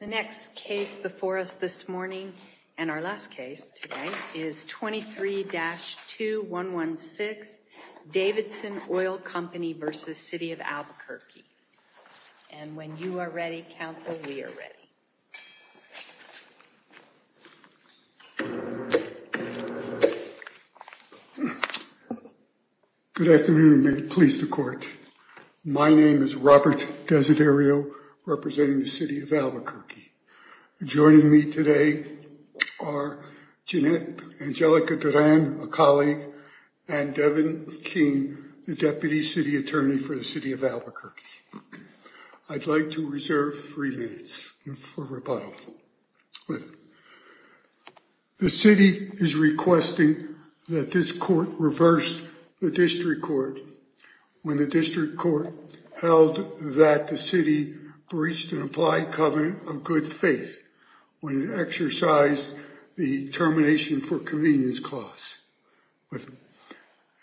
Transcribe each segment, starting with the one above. The next case before us this morning, and our last case today, is 23-2116 Davidson Oil Company v. City of Albuquerque. And when you are ready, counsel, we are ready. Good afternoon and may it please the court. My name is Robert Desiderio, representing the City of Albuquerque. Joining me today are Angelica Duran, a colleague, and Devin King, the Deputy City Attorney for the City of Albuquerque. I'd like to reserve three minutes for rebuttal. The city is requesting that this court reverse the district court when the district court held that the city breached an implied covenant of good faith when it exercised the termination for convenience clause.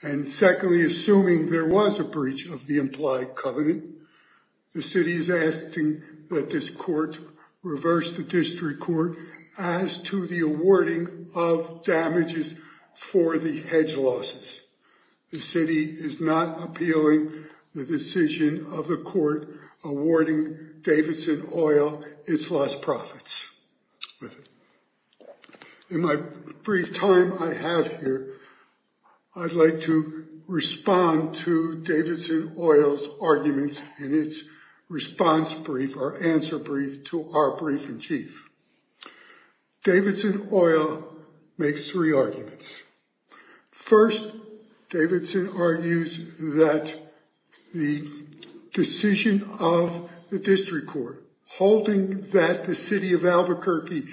And secondly, assuming there was a breach of the implied covenant, the city is asking that this court reverse the district court as to the awarding of damages for the hedge losses. The city is not appealing the decision of the court awarding Davidson Oil its lost profits. In my brief time I have here, I'd like to respond to Davidson Oil's arguments in its response brief or answer brief to our brief in chief. Davidson Oil makes three arguments. First, Davidson argues that the decision of the district court holding that the city of Albuquerque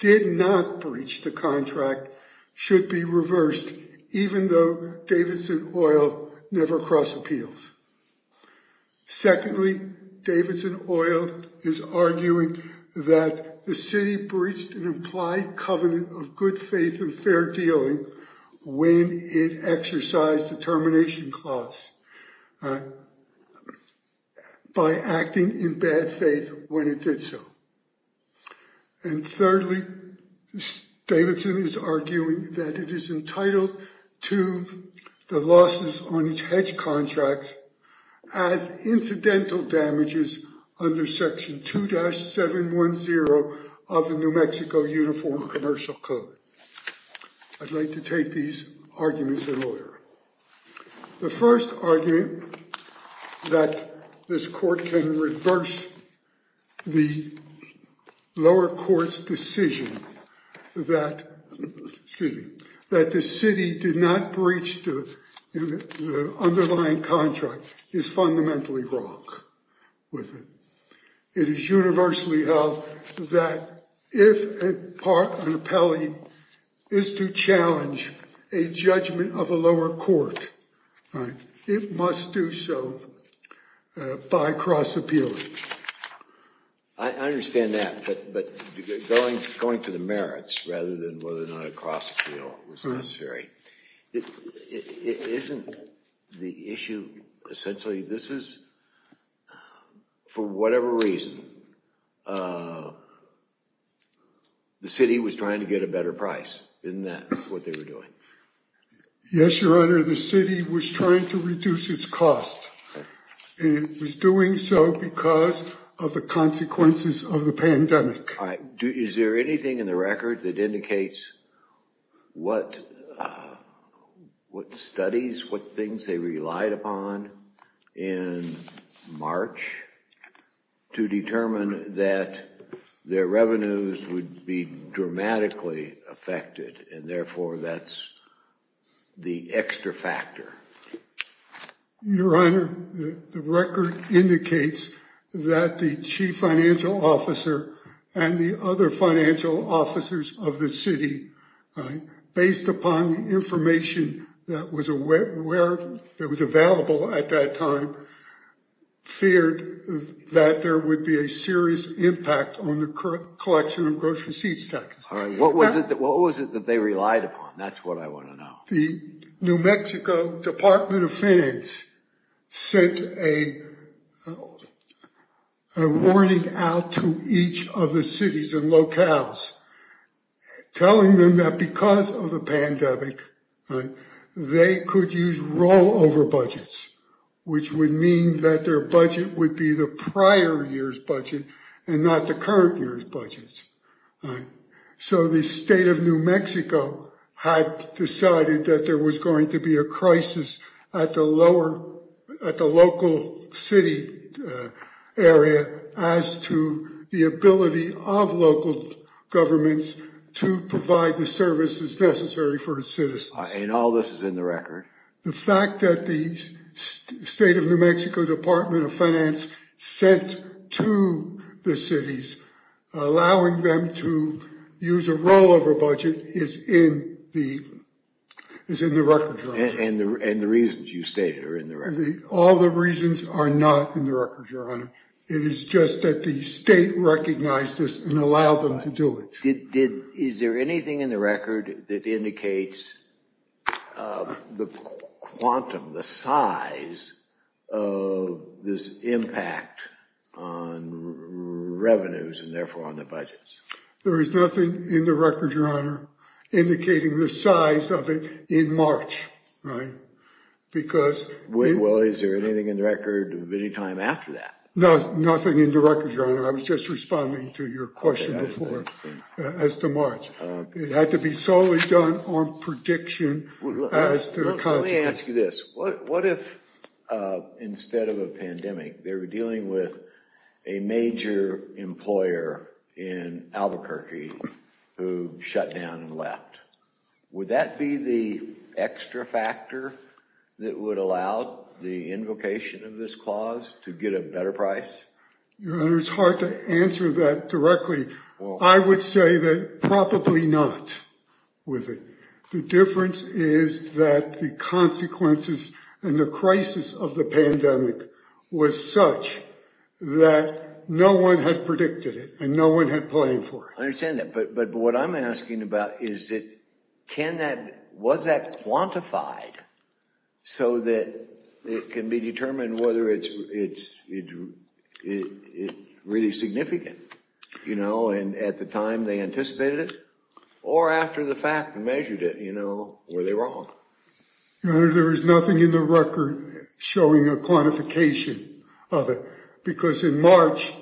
did not breach the contract should be reversed, even though Davidson Oil never cross appeals. Secondly, Davidson Oil is arguing that the city breached an implied covenant of good faith and fair dealing when it exercised the termination clause by acting in bad faith when it did so. And thirdly, Davidson is arguing that it is entitled to the losses on its hedge contracts as incidental damages under section 2-710 of the New Mexico Uniform Commercial Code. I'd like to take these arguments in order. The first argument that this court can reverse the lower court's decision that the city did not breach the underlying contract is fundamentally wrong with it. It is universally held that if an appellee is to challenge a judgment of a lower court, it must do so by cross appealing. I understand that, but going to the merits rather than whether or not a cross appeal is necessary. Isn't the issue essentially this is, for whatever reason, the city was trying to get a better price? Isn't that what they were doing? Yes, your honor. The city was trying to reduce its cost. And it was doing so because of the consequences of the pandemic. Is there anything in the record that indicates what studies, what things they relied upon in March to determine that their revenues would be dramatically affected? And therefore, that's the extra factor. Your honor, the record indicates that the chief financial officer and the other financial officers of the city, based upon information that was available at that time, feared that there would be a serious impact on the collection of grocery seats. What was it that they relied upon? That's what I want to know. The New Mexico Department of Finance sent a warning out to each of the cities and locales, telling them that because of a pandemic, they could use rollover budgets, which would mean that their budget would be the prior year's budget and not the current year's budgets. So the state of New Mexico had decided that there was going to be a crisis at the local city area as to the ability of local governments to provide the services necessary for its citizens. And all this is in the record? The fact that the state of New Mexico Department of Finance sent to the cities, allowing them to use a rollover budget, is in the record. And the reasons you stated are in the record? All the reasons are not in the record, your honor. It is just that the state recognized this and allowed them to do it. Is there anything in the record that indicates the quantum, the size, of this impact on revenues and therefore on the budgets? There is nothing in the record, your honor, indicating the size of it in March. Well, is there anything in the record of any time after that? I was just responding to your question before as to March. It had to be solely done on prediction as to the consequences. Let me ask you this. What if instead of a pandemic, they were dealing with a major employer in Albuquerque who shut down and left? Would that be the extra factor that would allow the invocation of this clause to get a better price? Your honor, it's hard to answer that directly. I would say that probably not with it. The difference is that the consequences and the crisis of the pandemic was such that no one had predicted it and no one had planned for it. I understand that. But what I'm asking about is, was that quantified so that it can be determined whether it's really significant? You know, and at the time they anticipated it or after the fact measured it, you know, were they wrong? Your honor, there is nothing in the record showing a quantification of it. Because in March,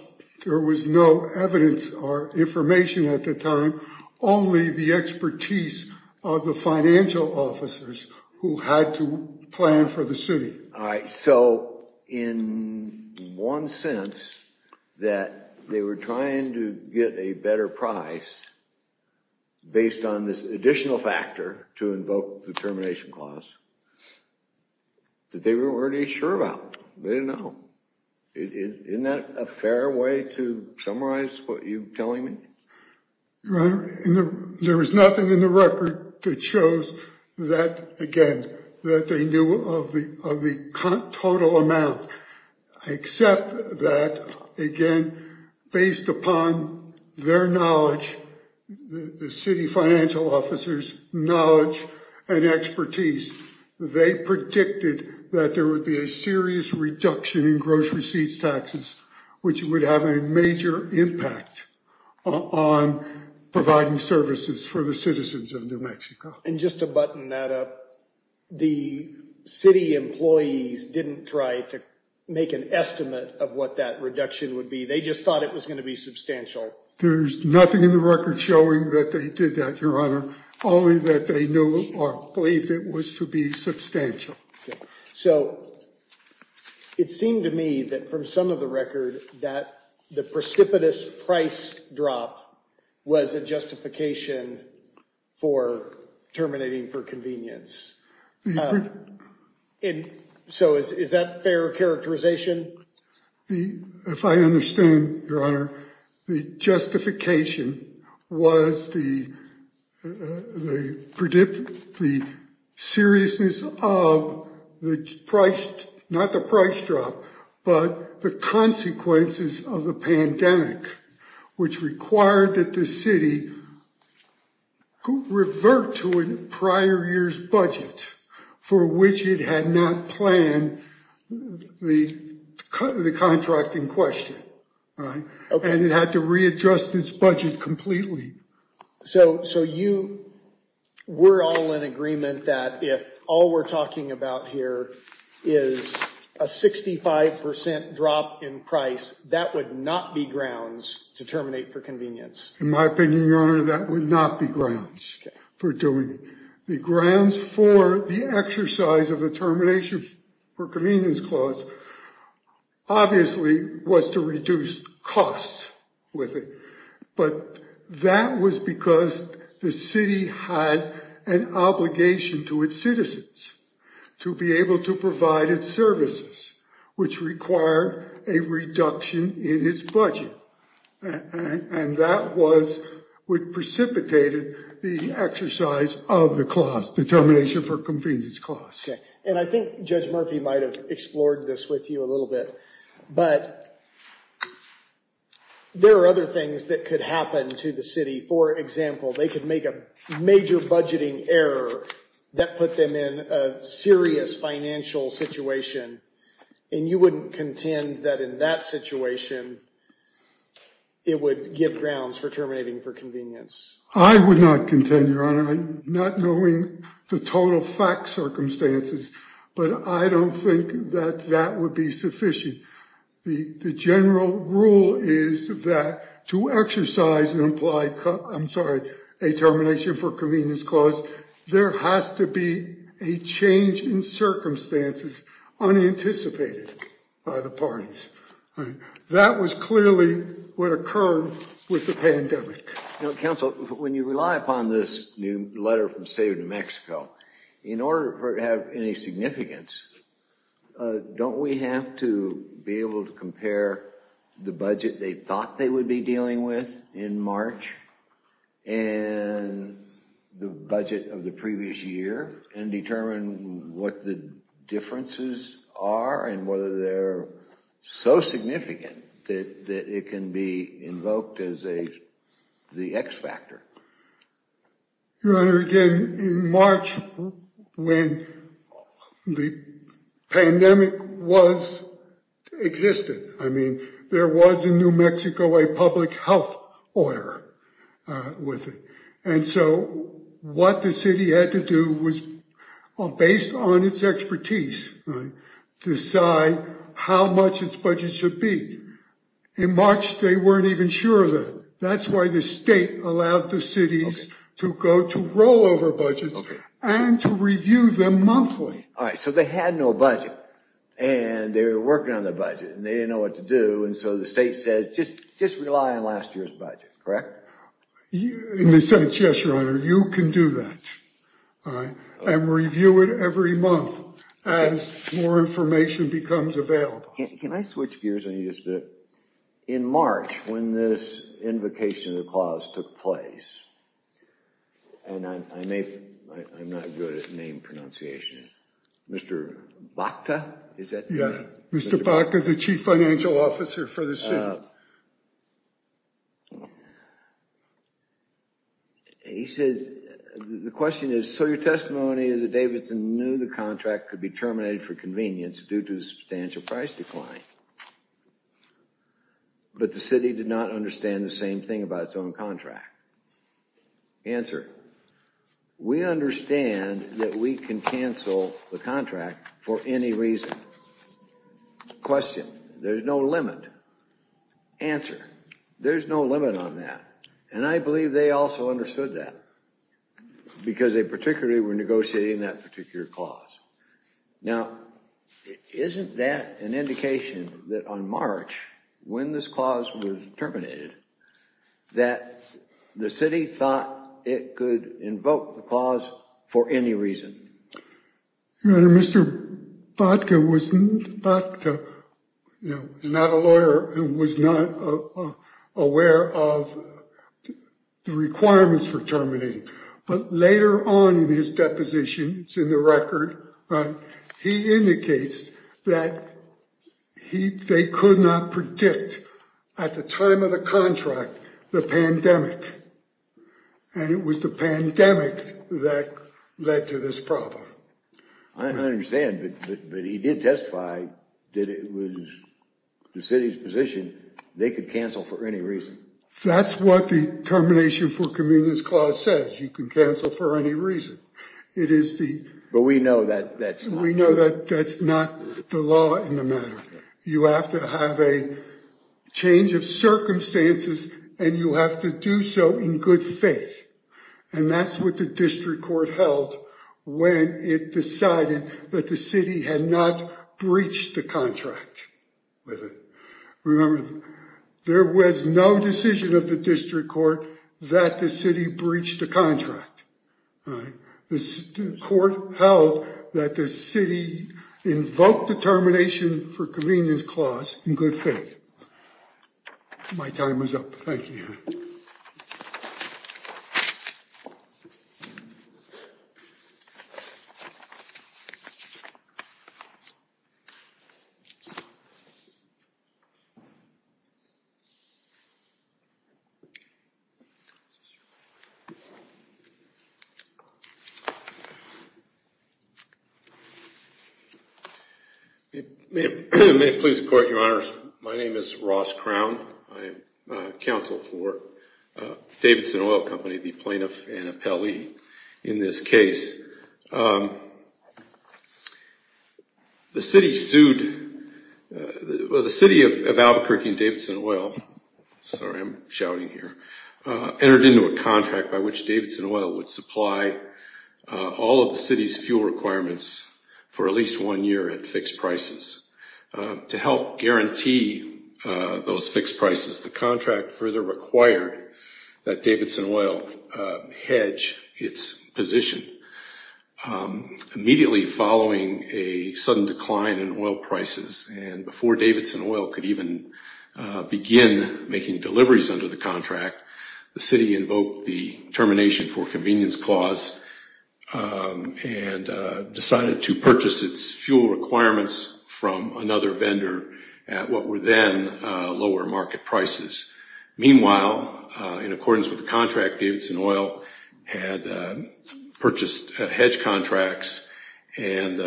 there was no evidence or information at the time, only the expertise of the financial officers who had to plan for the city. All right. So in one sense that they were trying to get a better price. Based on this additional factor to invoke the termination clause that they were already sure about, they didn't know. Isn't that a fair way to summarize what you're telling me? There was nothing in the record that shows that, again, that they knew of the total amount. Except that, again, based upon their knowledge, the city financial officers knowledge and expertise, they predicted that there would be a serious reduction in gross receipts, taxes, which would have a major impact on providing services for the citizens of New Mexico. And just to button that up, the city employees didn't try to make an estimate of what that reduction would be. They just thought it was going to be substantial. There's nothing in the record showing that they did that, Your Honor, only that they knew or believed it was to be substantial. So it seemed to me that from some of the record that the precipitous price drop was a justification for terminating for convenience. And so is that fair characterization? If I understand, Your Honor, the justification was the seriousness of the price, not the price drop, but the consequences of the pandemic, which required that the city revert to a prior year's budget for which it had not planned the contracting question. And it had to readjust its budget completely. So you were all in agreement that if all we're talking about here is a 65% drop in price, that would not be grounds to terminate for convenience. In my opinion, Your Honor, that would not be grounds for doing it. The grounds for the exercise of the termination for convenience clause obviously was to reduce costs with it. But that was because the city had an obligation to its citizens to be able to provide its services, which require a reduction in its budget. And that was what precipitated the exercise of the clause, the termination for convenience clause. And I think Judge Murphy might have explored this with you a little bit. But there are other things that could happen to the city. For example, they could make a major budgeting error that put them in a serious financial situation. And you wouldn't contend that in that situation, it would give grounds for terminating for convenience. I would not contend, Your Honor, not knowing the total fact circumstances, but I don't think that that would be sufficient. The general rule is that to exercise and apply. I'm sorry. A termination for convenience clause. There has to be a change in circumstances unanticipated by the parties. That was clearly what occurred with the pandemic. Counsel, when you rely upon this new letter from the state of New Mexico, in order for it to have any significance, don't we have to be able to compare the budget they thought they would be dealing with in March and the budget of the previous year and determine what the differences are and whether they're so significant that it can be invoked as the X factor? Your Honor, again, in March, when the pandemic was existed, I mean, there was in New Mexico a public health order with it. And so what the city had to do was, based on its expertise, decide how much its budget should be. In March, they weren't even sure. That's why the state allowed the cities to go to rollover budgets and to review them monthly. All right. So they had no budget and they were working on the budget and they didn't know what to do. And so the state said, just just rely on last year's budget. Correct. In a sense, yes, Your Honor, you can do that and review it every month as more information becomes available. Can I switch gears in March when this invocation of the clause took place? And I may, I'm not good at name pronunciation. Mr. Bakta? Yeah, Mr. Bakta, the chief financial officer for the city. He says, the question is, so your testimony is that Davidson knew the contract could be terminated for convenience due to substantial price decline. But the city did not understand the same thing about its own contract. Answer. We understand that we can cancel the contract for any reason. Question. There's no limit. Answer. There's no limit on that. And I believe they also understood that because they particularly were negotiating that particular clause. Now, isn't that an indication that on March, when this clause was terminated, that the city thought it could invoke the clause for any reason? Mr. Bakta was not a lawyer and was not aware of the requirements for terminating. But later on in his deposition, it's in the record, he indicates that they could not predict at the time of the contract, the pandemic. And it was the pandemic that led to this problem. I understand, but he did testify that it was the city's position they could cancel for any reason. That's what the termination for convenience clause says. You can cancel for any reason. It is. But we know that that's we know that that's not the law in the matter. You have to have a change of circumstances and you have to do so in good faith. And that's what the district court held when it decided that the city had not breached the contract with it. Remember, there was no decision of the district court that the city breached the contract. The court held that the city invoked the termination for convenience clause in good faith. My time is up. Thank you. May it please the court, your honors. My name is Ross Crown. I am counsel for Davidson Oil Company, the plaintiff and appellee in this case. The city sued the city of Albuquerque. Albuquerque and Davidson Oil, sorry I'm shouting here, entered into a contract by which Davidson Oil would supply all of the city's fuel requirements for at least one year at fixed prices. To help guarantee those fixed prices, the contract further required that Davidson Oil hedge its position. Immediately following a sudden decline in oil prices and before Davidson Oil could even begin making deliveries under the contract, the city invoked the termination for convenience clause and decided to purchase its fuel requirements from another vendor at what were then lower market prices. Meanwhile, in accordance with the contract, Davidson Oil had purchased hedge contracts and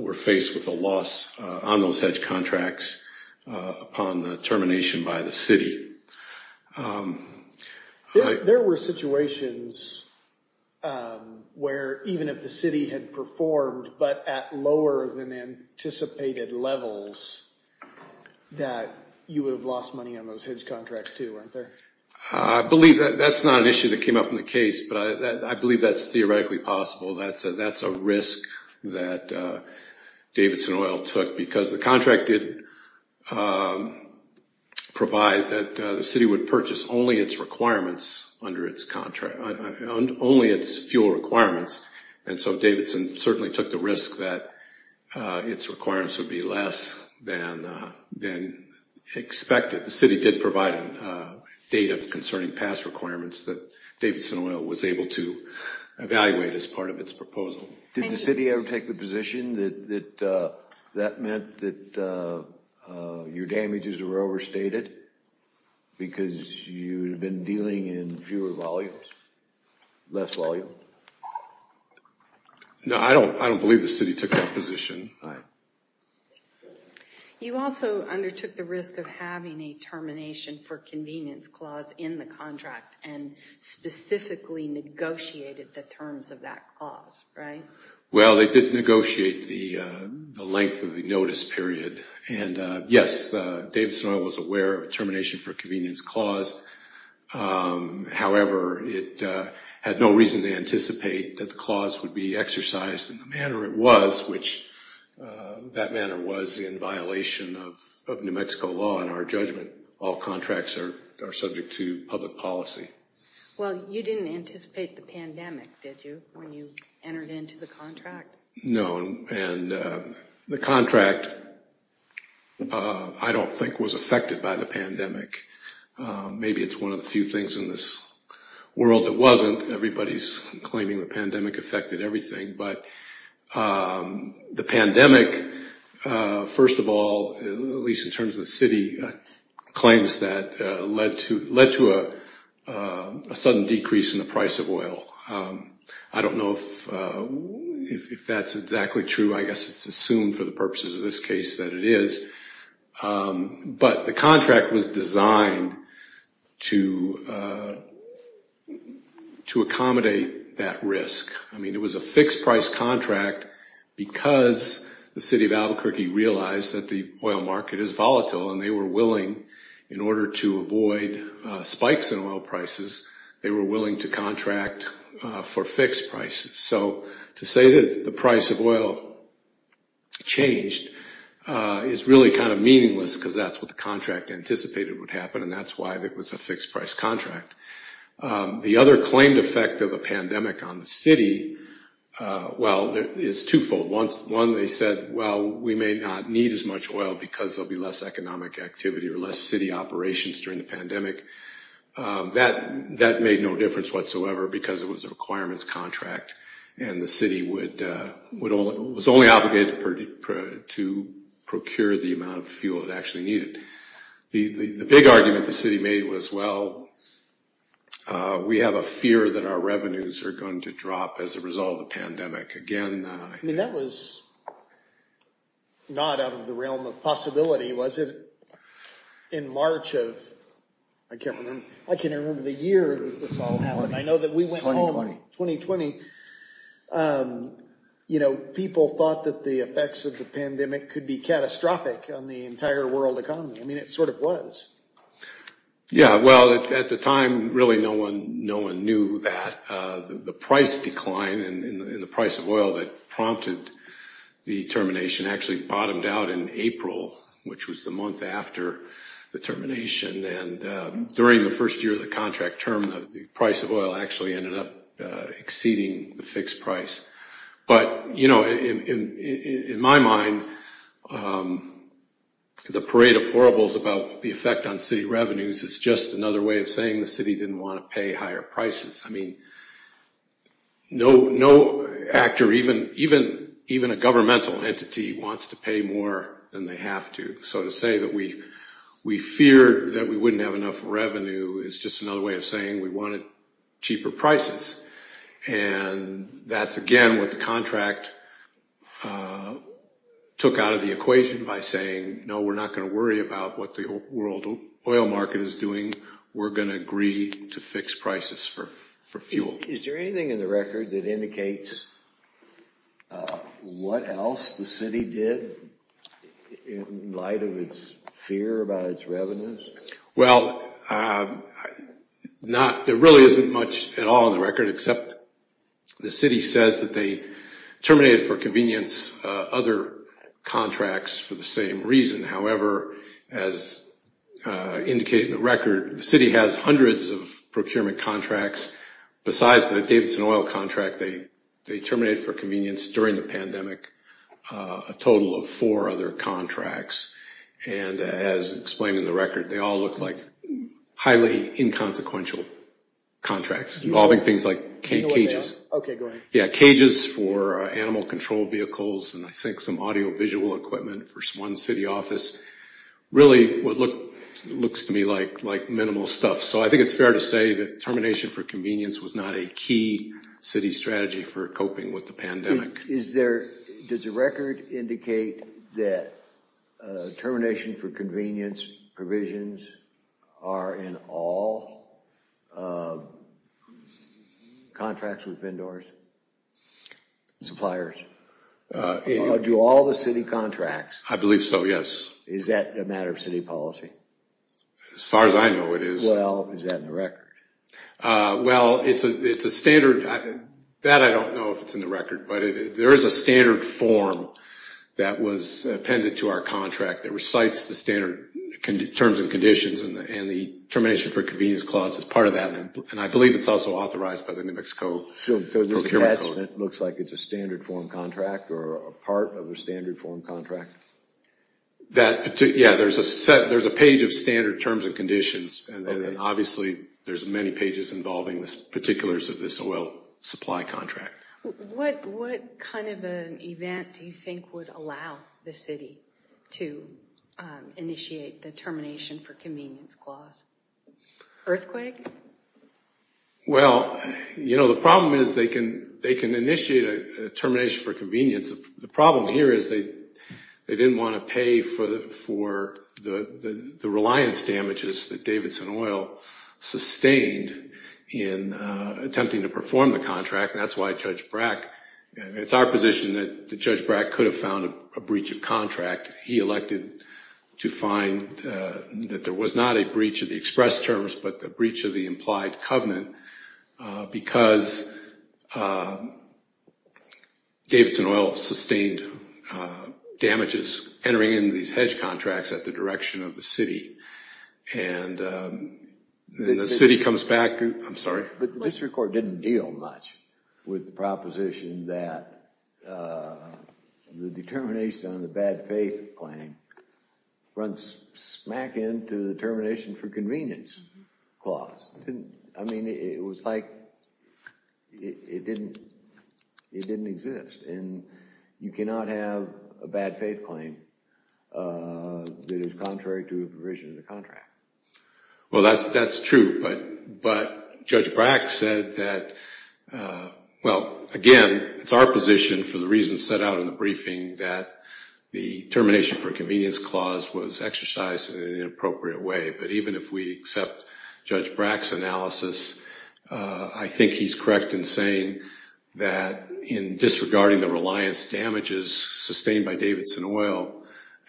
were faced with a loss on those hedge contracts upon the termination by the city. There were situations where even if the city had performed, but at lower than anticipated levels, that you would have lost money on those hedge contracts too, weren't there? I believe that's not an issue that came up in the case, but I believe that's theoretically possible. That's a risk that Davidson Oil took because the contract did provide that the city would purchase only its requirements under its contract, only its fuel requirements. And so Davidson certainly took the risk that its requirements would be less than expected. The city did provide data concerning past requirements that Davidson Oil was able to evaluate as part of its proposal. Did the city ever take the position that that meant that your damages were overstated because you had been dealing in fewer volumes, less volume? No, I don't believe the city took that position. You also undertook the risk of having a termination for convenience clause in the contract and specifically negotiated the terms of that clause, right? Well, they did negotiate the length of the notice period. And yes, Davidson Oil was aware of termination for convenience clause. However, it had no reason to anticipate that the clause would be exercised in the manner it was, which that manner was in violation of New Mexico law and our judgment. All contracts are subject to public policy. Well, you didn't anticipate the pandemic, did you, when you entered into the contract? No, and the contract I don't think was affected by the pandemic. Maybe it's one of the few things in this world that wasn't. Everybody's claiming the pandemic affected everything. But the pandemic, first of all, at least in terms of the city, claims that led to a sudden decrease in the price of oil. I don't know if that's exactly true. I guess it's assumed for the purposes of this case that it is. But the contract was designed to accommodate that risk. I mean, it was a fixed price contract because the city of Albuquerque realized that the oil market is volatile and they were willing, in order to avoid spikes in oil prices, they were willing to contract for fixed prices. So to say that the price of oil changed is really kind of meaningless because that's what the contract anticipated would happen and that's why it was a fixed price contract. The other claimed effect of a pandemic on the city is twofold. One, they said, well, we may not need as much oil because there'll be less economic activity or less city operations during the pandemic. That made no difference whatsoever because it was a requirements contract. And the city was only obligated to procure the amount of fuel it actually needed. The big argument the city made was, well, we have a fear that our revenues are going to drop as a result of the pandemic. I mean, that was not out of the realm of possibility, was it? In March of, I can't remember the year, I know that we went home in 2020. You know, people thought that the effects of the pandemic could be catastrophic on the entire world economy. I mean, it sort of was. Yeah, well, at the time, really no one knew that. The price decline in the price of oil that prompted the termination actually bottomed out in April, which was the month after the termination. And during the first year of the contract term, the price of oil actually ended up exceeding the fixed price. But, you know, in my mind, the parade of horribles about the effect on city revenues is just another way of saying the city didn't want to pay higher prices. I mean, no actor, even a governmental entity, wants to pay more than they have to. So to say that we feared that we wouldn't have enough revenue is just another way of saying we wanted cheaper prices. And that's again what the contract took out of the equation by saying, no, we're not going to worry about what the world oil market is doing. We're going to agree to fix prices for fuel. Is there anything in the record that indicates what else the city did in light of its fear about its revenues? Well, there really isn't much at all in the record except the city says that they terminated for convenience other contracts for the same reason. However, as indicated in the record, the city has hundreds of procurement contracts. Besides the Davidson oil contract, they terminated for convenience during the pandemic a total of four other contracts. And as explained in the record, they all look like highly inconsequential contracts involving things like cages. Cages for animal control vehicles and I think some audiovisual equipment for one city office really looks to me like minimal stuff. So I think it's fair to say that termination for convenience was not a key city strategy for coping with the pandemic. Does the record indicate that termination for convenience provisions are in all contracts with vendors? Suppliers? Do all the city contracts? I believe so, yes. Is that a matter of city policy? As far as I know it is. Well, is that in the record? Well, it's a standard. That I don't know if it's in the record, but there is a standard form that was appended to our contract that recites the standard terms and conditions and the termination for convenience clause is part of that. And I believe it's also authorized by the New Mexico Procurement Code. So the attachment looks like it's a standard form contract or a part of a standard form contract? Yeah, there's a page of standard terms and conditions and then obviously there's many pages involving the particulars of this oil supply contract. What kind of an event do you think would allow the city to initiate the termination for convenience clause? Earthquake? Well, you know, the problem is they can initiate a termination for convenience. The problem here is they didn't want to pay for the reliance damages that Davidson Oil sustained in attempting to perform the contract. That's why Judge Brack, it's our position that Judge Brack could have found a breach of contract. He elected to find that there was not a breach of the express terms, but a breach of the implied covenant because Davidson Oil sustained damages entering into these hedge contracts at the direction of the city. And then the city comes back, I'm sorry? But the district court didn't deal much with the proposition that the determination on the bad faith claim runs smack in to the termination for convenience clause. I mean, it was like it didn't exist. And you cannot have a bad faith claim that is contrary to the provision of the contract. Well, that's true. But Judge Brack said that, well, again, it's our position for the reasons set out in the briefing that the termination for convenience clause was exercised in an inappropriate way. But even if we accept Judge Brack's analysis, I think he's correct in saying that in disregarding the reliance damages sustained by Davidson Oil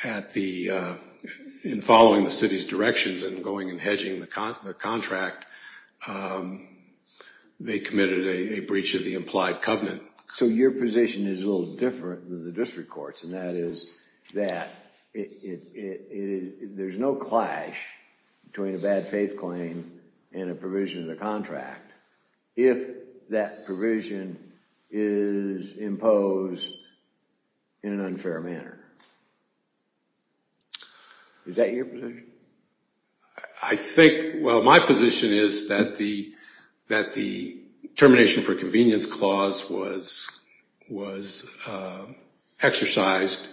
in following the city's directions and going and hedging the contract, they committed a breach of the implied covenant. So your position is a little different than the district court's, and that is that there's no clash between a bad faith claim and a provision of the contract if that provision is imposed in an unfair manner. Is that your position? I think, well, my position is that the termination for convenience clause was exercised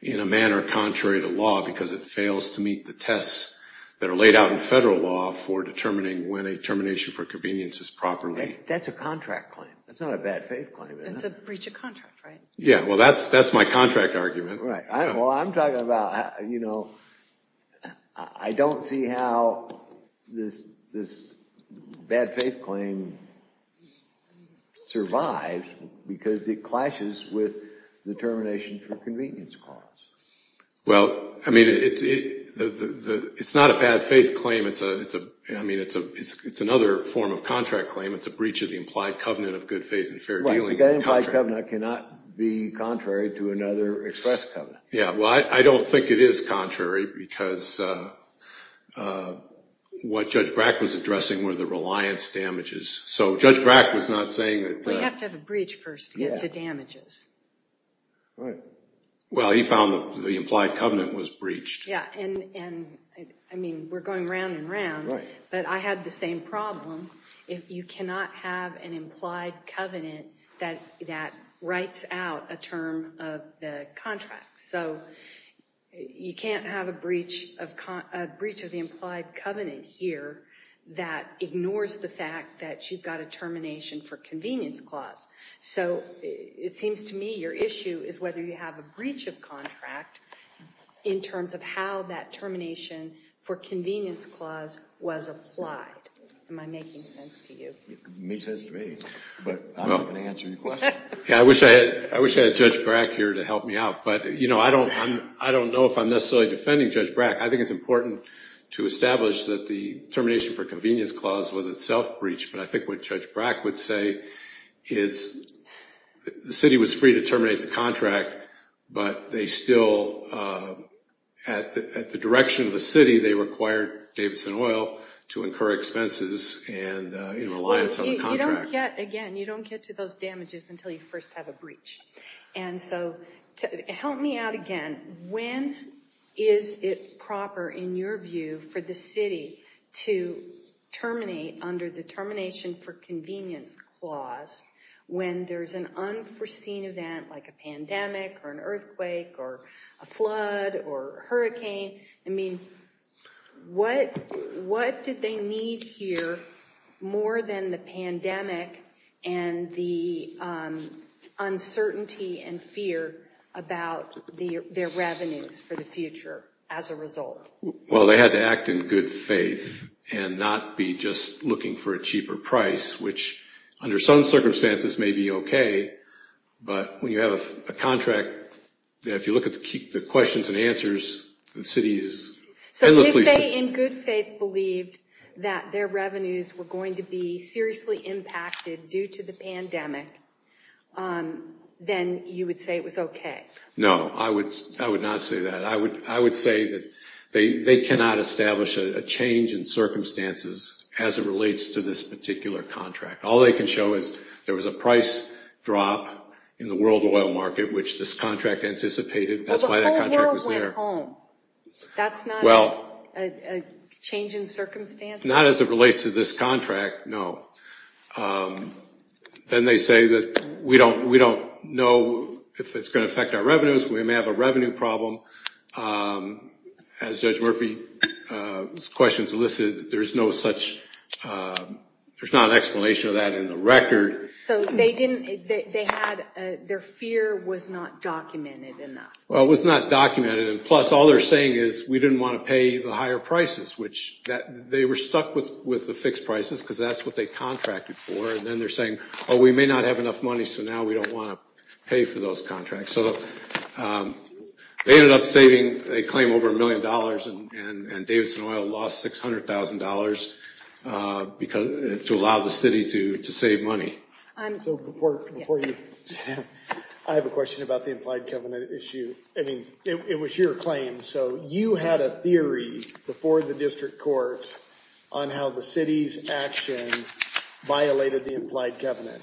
in a manner contrary to law because it fails to meet the tests that are laid out in federal law for determining when a termination for convenience is proper. That's a contract claim. That's not a bad faith claim. That's a breach of contract, right? Yeah, well, that's my contract argument. Well, I'm talking about, you know, I don't see how this bad faith claim survives because it clashes with the termination for convenience clause. Well, I mean, it's not a bad faith claim. I mean, it's another form of contract claim. It's a breach of the implied covenant of good faith and fair dealing. Well, the implied covenant cannot be contrary to another express covenant. Yeah, well, I don't think it is contrary because what Judge Brack was addressing were the reliance damages. So Judge Brack was not saying that... Well, you have to have a breach first to get to damages. Right. Well, he found the implied covenant was breached. Yeah, and I mean, we're going round and round. Right. But I had the same problem. If you cannot have an implied covenant that writes out a term of the contract. So you can't have a breach of the implied covenant here that ignores the fact that you've got a termination for convenience clause. So it seems to me your issue is whether you have a breach of contract in terms of how that termination for convenience clause was applied. Am I making sense to you? It makes sense to me, but I'm not going to answer your question. Yeah, I wish I had Judge Brack here to help me out. I don't know if I'm necessarily defending Judge Brack. I think it's important to establish that the termination for convenience clause was itself breached. But I think what Judge Brack would say is the city was free to terminate the contract, but they still, at the direction of the city, they required Davidson Oil to incur expenses in reliance on the contract. Again, you don't get to those damages until you first have a breach. And so help me out again. When is it proper, in your view, for the city to terminate under the termination for convenience clause when there's an unforeseen event like a pandemic or an earthquake or a flood or hurricane? I mean, what did they need here more than the pandemic and the uncertainty and fear about their revenues for the future as a result? Well, they had to act in good faith and not be just looking for a cheaper price, which under some circumstances may be okay. But when you have a contract, if you look at the questions and answers, the city is endlessly... So they, in good faith, believed that their revenues were going to be seriously impacted due to the pandemic, then you would say it was okay. No, I would not say that. I would say that they cannot establish a change in circumstances as it relates to this particular contract. All they can show is there was a price drop in the world oil market which this contract anticipated. That's why that contract was there. Well, the whole world went home. That's not a change in circumstances? Not as it relates to this contract, no. Then they say that we don't know if it's going to affect our revenues. We may have a revenue problem. As Judge Murphy's questions elicited, there's no such... There's not an explanation of that in the record. So they didn't... Their fear was not documented enough. Well, it was not documented. Plus, all they're saying is we didn't want to pay the higher prices, so we stuck with the fixed prices because that's what they contracted for. Then they're saying, we may not have enough money, so now we don't want to pay for those contracts. They ended up saving a claim over a million dollars and Davidson Oil lost $600,000 to allow the city to save money. I have a question about the implied covenant issue. It was your claim. You had a theory before the district court on how the city's action violated the implied covenant.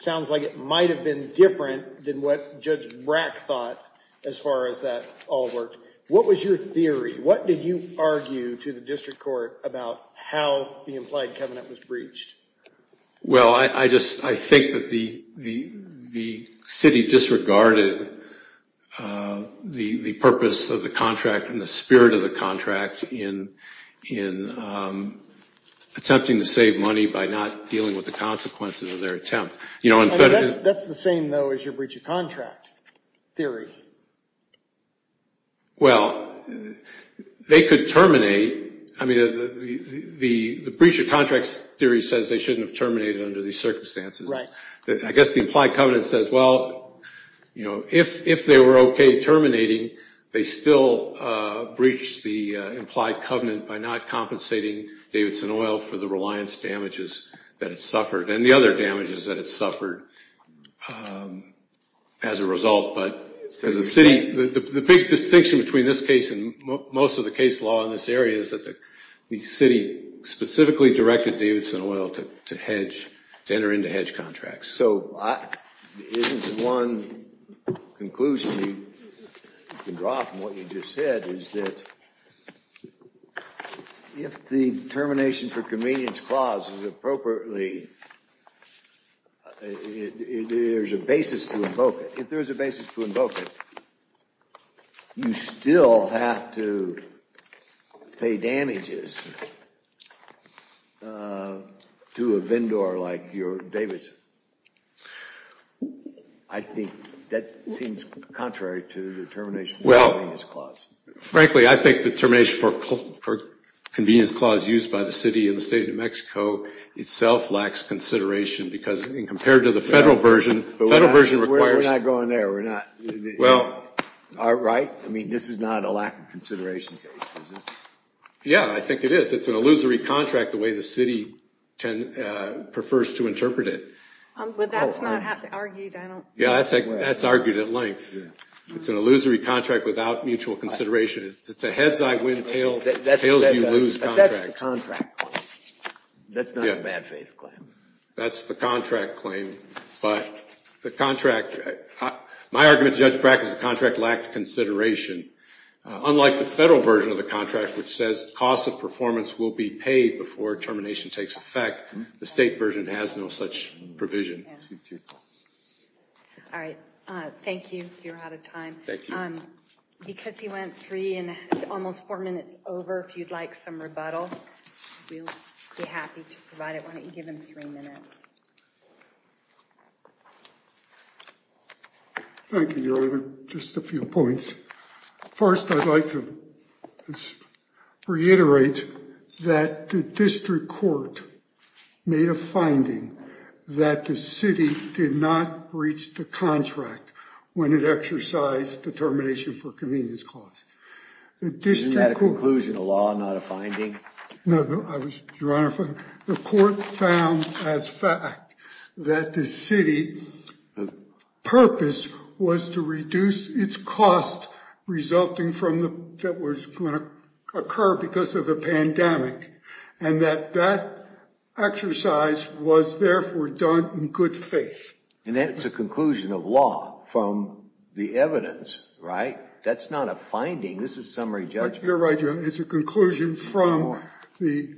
Sounds like it might have been different than what Judge Brack thought as far as that all worked. What was your theory? What did you argue to the district court about how the implied covenant was breached? Well, I think that the city disregarded the purpose of the contract and the spirit of the contract in attempting to save money by not dealing with the consequences of their attempt. That's the same, though, as your breach of contract theory. Well, they could terminate. The breach of contract theory says they shouldn't have terminated under these circumstances. I guess the implied covenant says, well, if they were okay terminating, they still breached the implied covenant by not compensating Davidson Oil for the reliance damages that it suffered and the other damages that it suffered as a result. But the big distinction between this case and most of the case law in this area is that the city specifically directed Davidson Oil to enter into hedge contracts. So isn't one conclusion you can draw from what you just said is that if the termination for convenience clause is appropriately, there's a basis to invoke it. If there's a basis to invoke it, you still have to pay damages to a vendor like Davidson. I think that seems contrary to the termination for convenience clause. Frankly, I think the termination for convenience clause used by the city and the state of New Mexico itself lacks consideration because compared to the federal version, the federal version requires... We're not going there. Right? I mean, this is not a lack of consideration case. Yeah, I think it is. It's an illusory contract the way the city prefers to interpret it. But that's not argued. Yeah, that's argued at length. It's an illusory contract without mutual consideration. It's a heads-I-win-tails-you-lose contract. But that's the contract claim. That's not a bad faith claim. That's the contract claim. But the contract... My argument, Judge Brack, is the contract lacked consideration. Unlike the federal version of the contract which says costs of performance will be paid before termination takes effect, the state version has no such provision. Thank you. All right. Thank you. You're out of time. Thank you. Because he went three and almost four minutes over, if you'd like some rebuttal, we'll be happy to provide it. Why don't you give him three minutes? Thank you, Your Honor. Just a few points. First, I'd like to reiterate that the district court made a finding that the city did not breach the contract when it exercised the termination for convenience costs. Isn't that a conclusion of law, not a finding? No, Your Honor. The court found as fact that the city's purpose was to reduce its cost resulting from what was going to occur because of the pandemic and that that exercise was therefore done in good faith. And that's a conclusion of law from the evidence, right? That's not a finding. This is summary judgment. You're right, Your Honor. It's a conclusion from the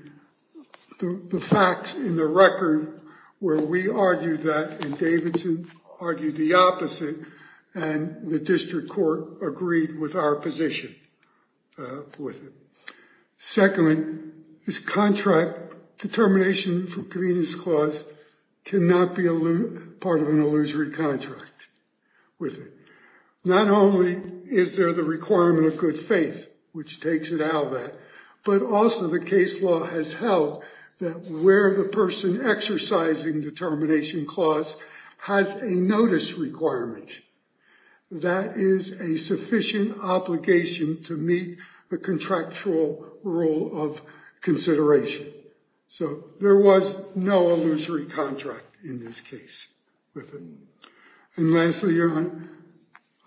facts in the record where we argued that and Davidson argued the opposite and the district court agreed with our position with it. Secondly, this contract, determination for convenience clause cannot be part of an illusory contract with it. Not only is there the requirement of good faith, which takes it out of that, but also the case law has held that where the person exercising determination clause has a notice requirement. That is a sufficient obligation to meet the contractual rule of consideration. So there was no illusory contract in this case with it. And lastly, Your Honor,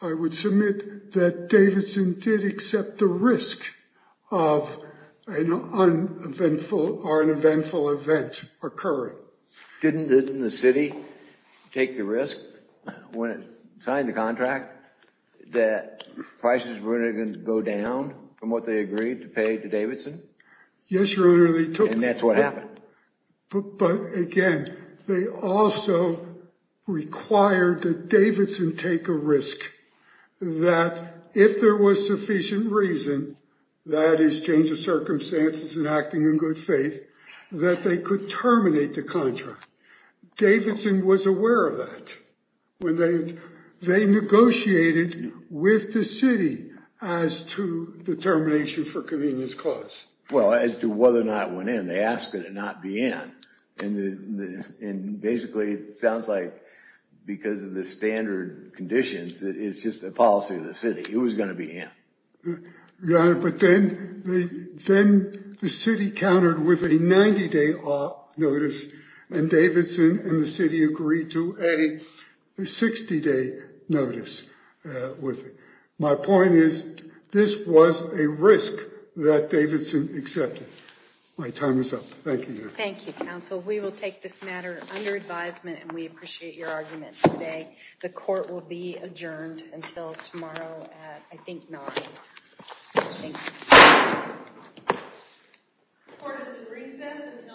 I would submit that Davidson did accept the risk of an uneventful or an eventful event occurring. So didn't the city take the risk when it signed the contract that prices were going to go down from what they agreed to pay to Davidson? Yes, Your Honor, they took the risk. And that's what happened. But again, they also required that Davidson take a risk that if there was sufficient reason, that is change of circumstances and acting in good faith, that they could terminate the contract. Davidson was aware of that. They negotiated with the city as to the termination for convenience clause. Well, as to whether or not it went in, they asked it to not be in. And basically, it sounds like because of the standard conditions, it's just a policy of the city. It was going to be in. Your Honor, but then the city countered with a 90-day notice. And Davidson and the city agreed to a 60-day notice with it. My point is, this was a risk that Davidson accepted. My time is up. Thank you, Your Honor. Thank you, counsel. We will take this matter under advisement and we appreciate your argument today. The court will be adjourned until tomorrow at, I think, 9. Thank you.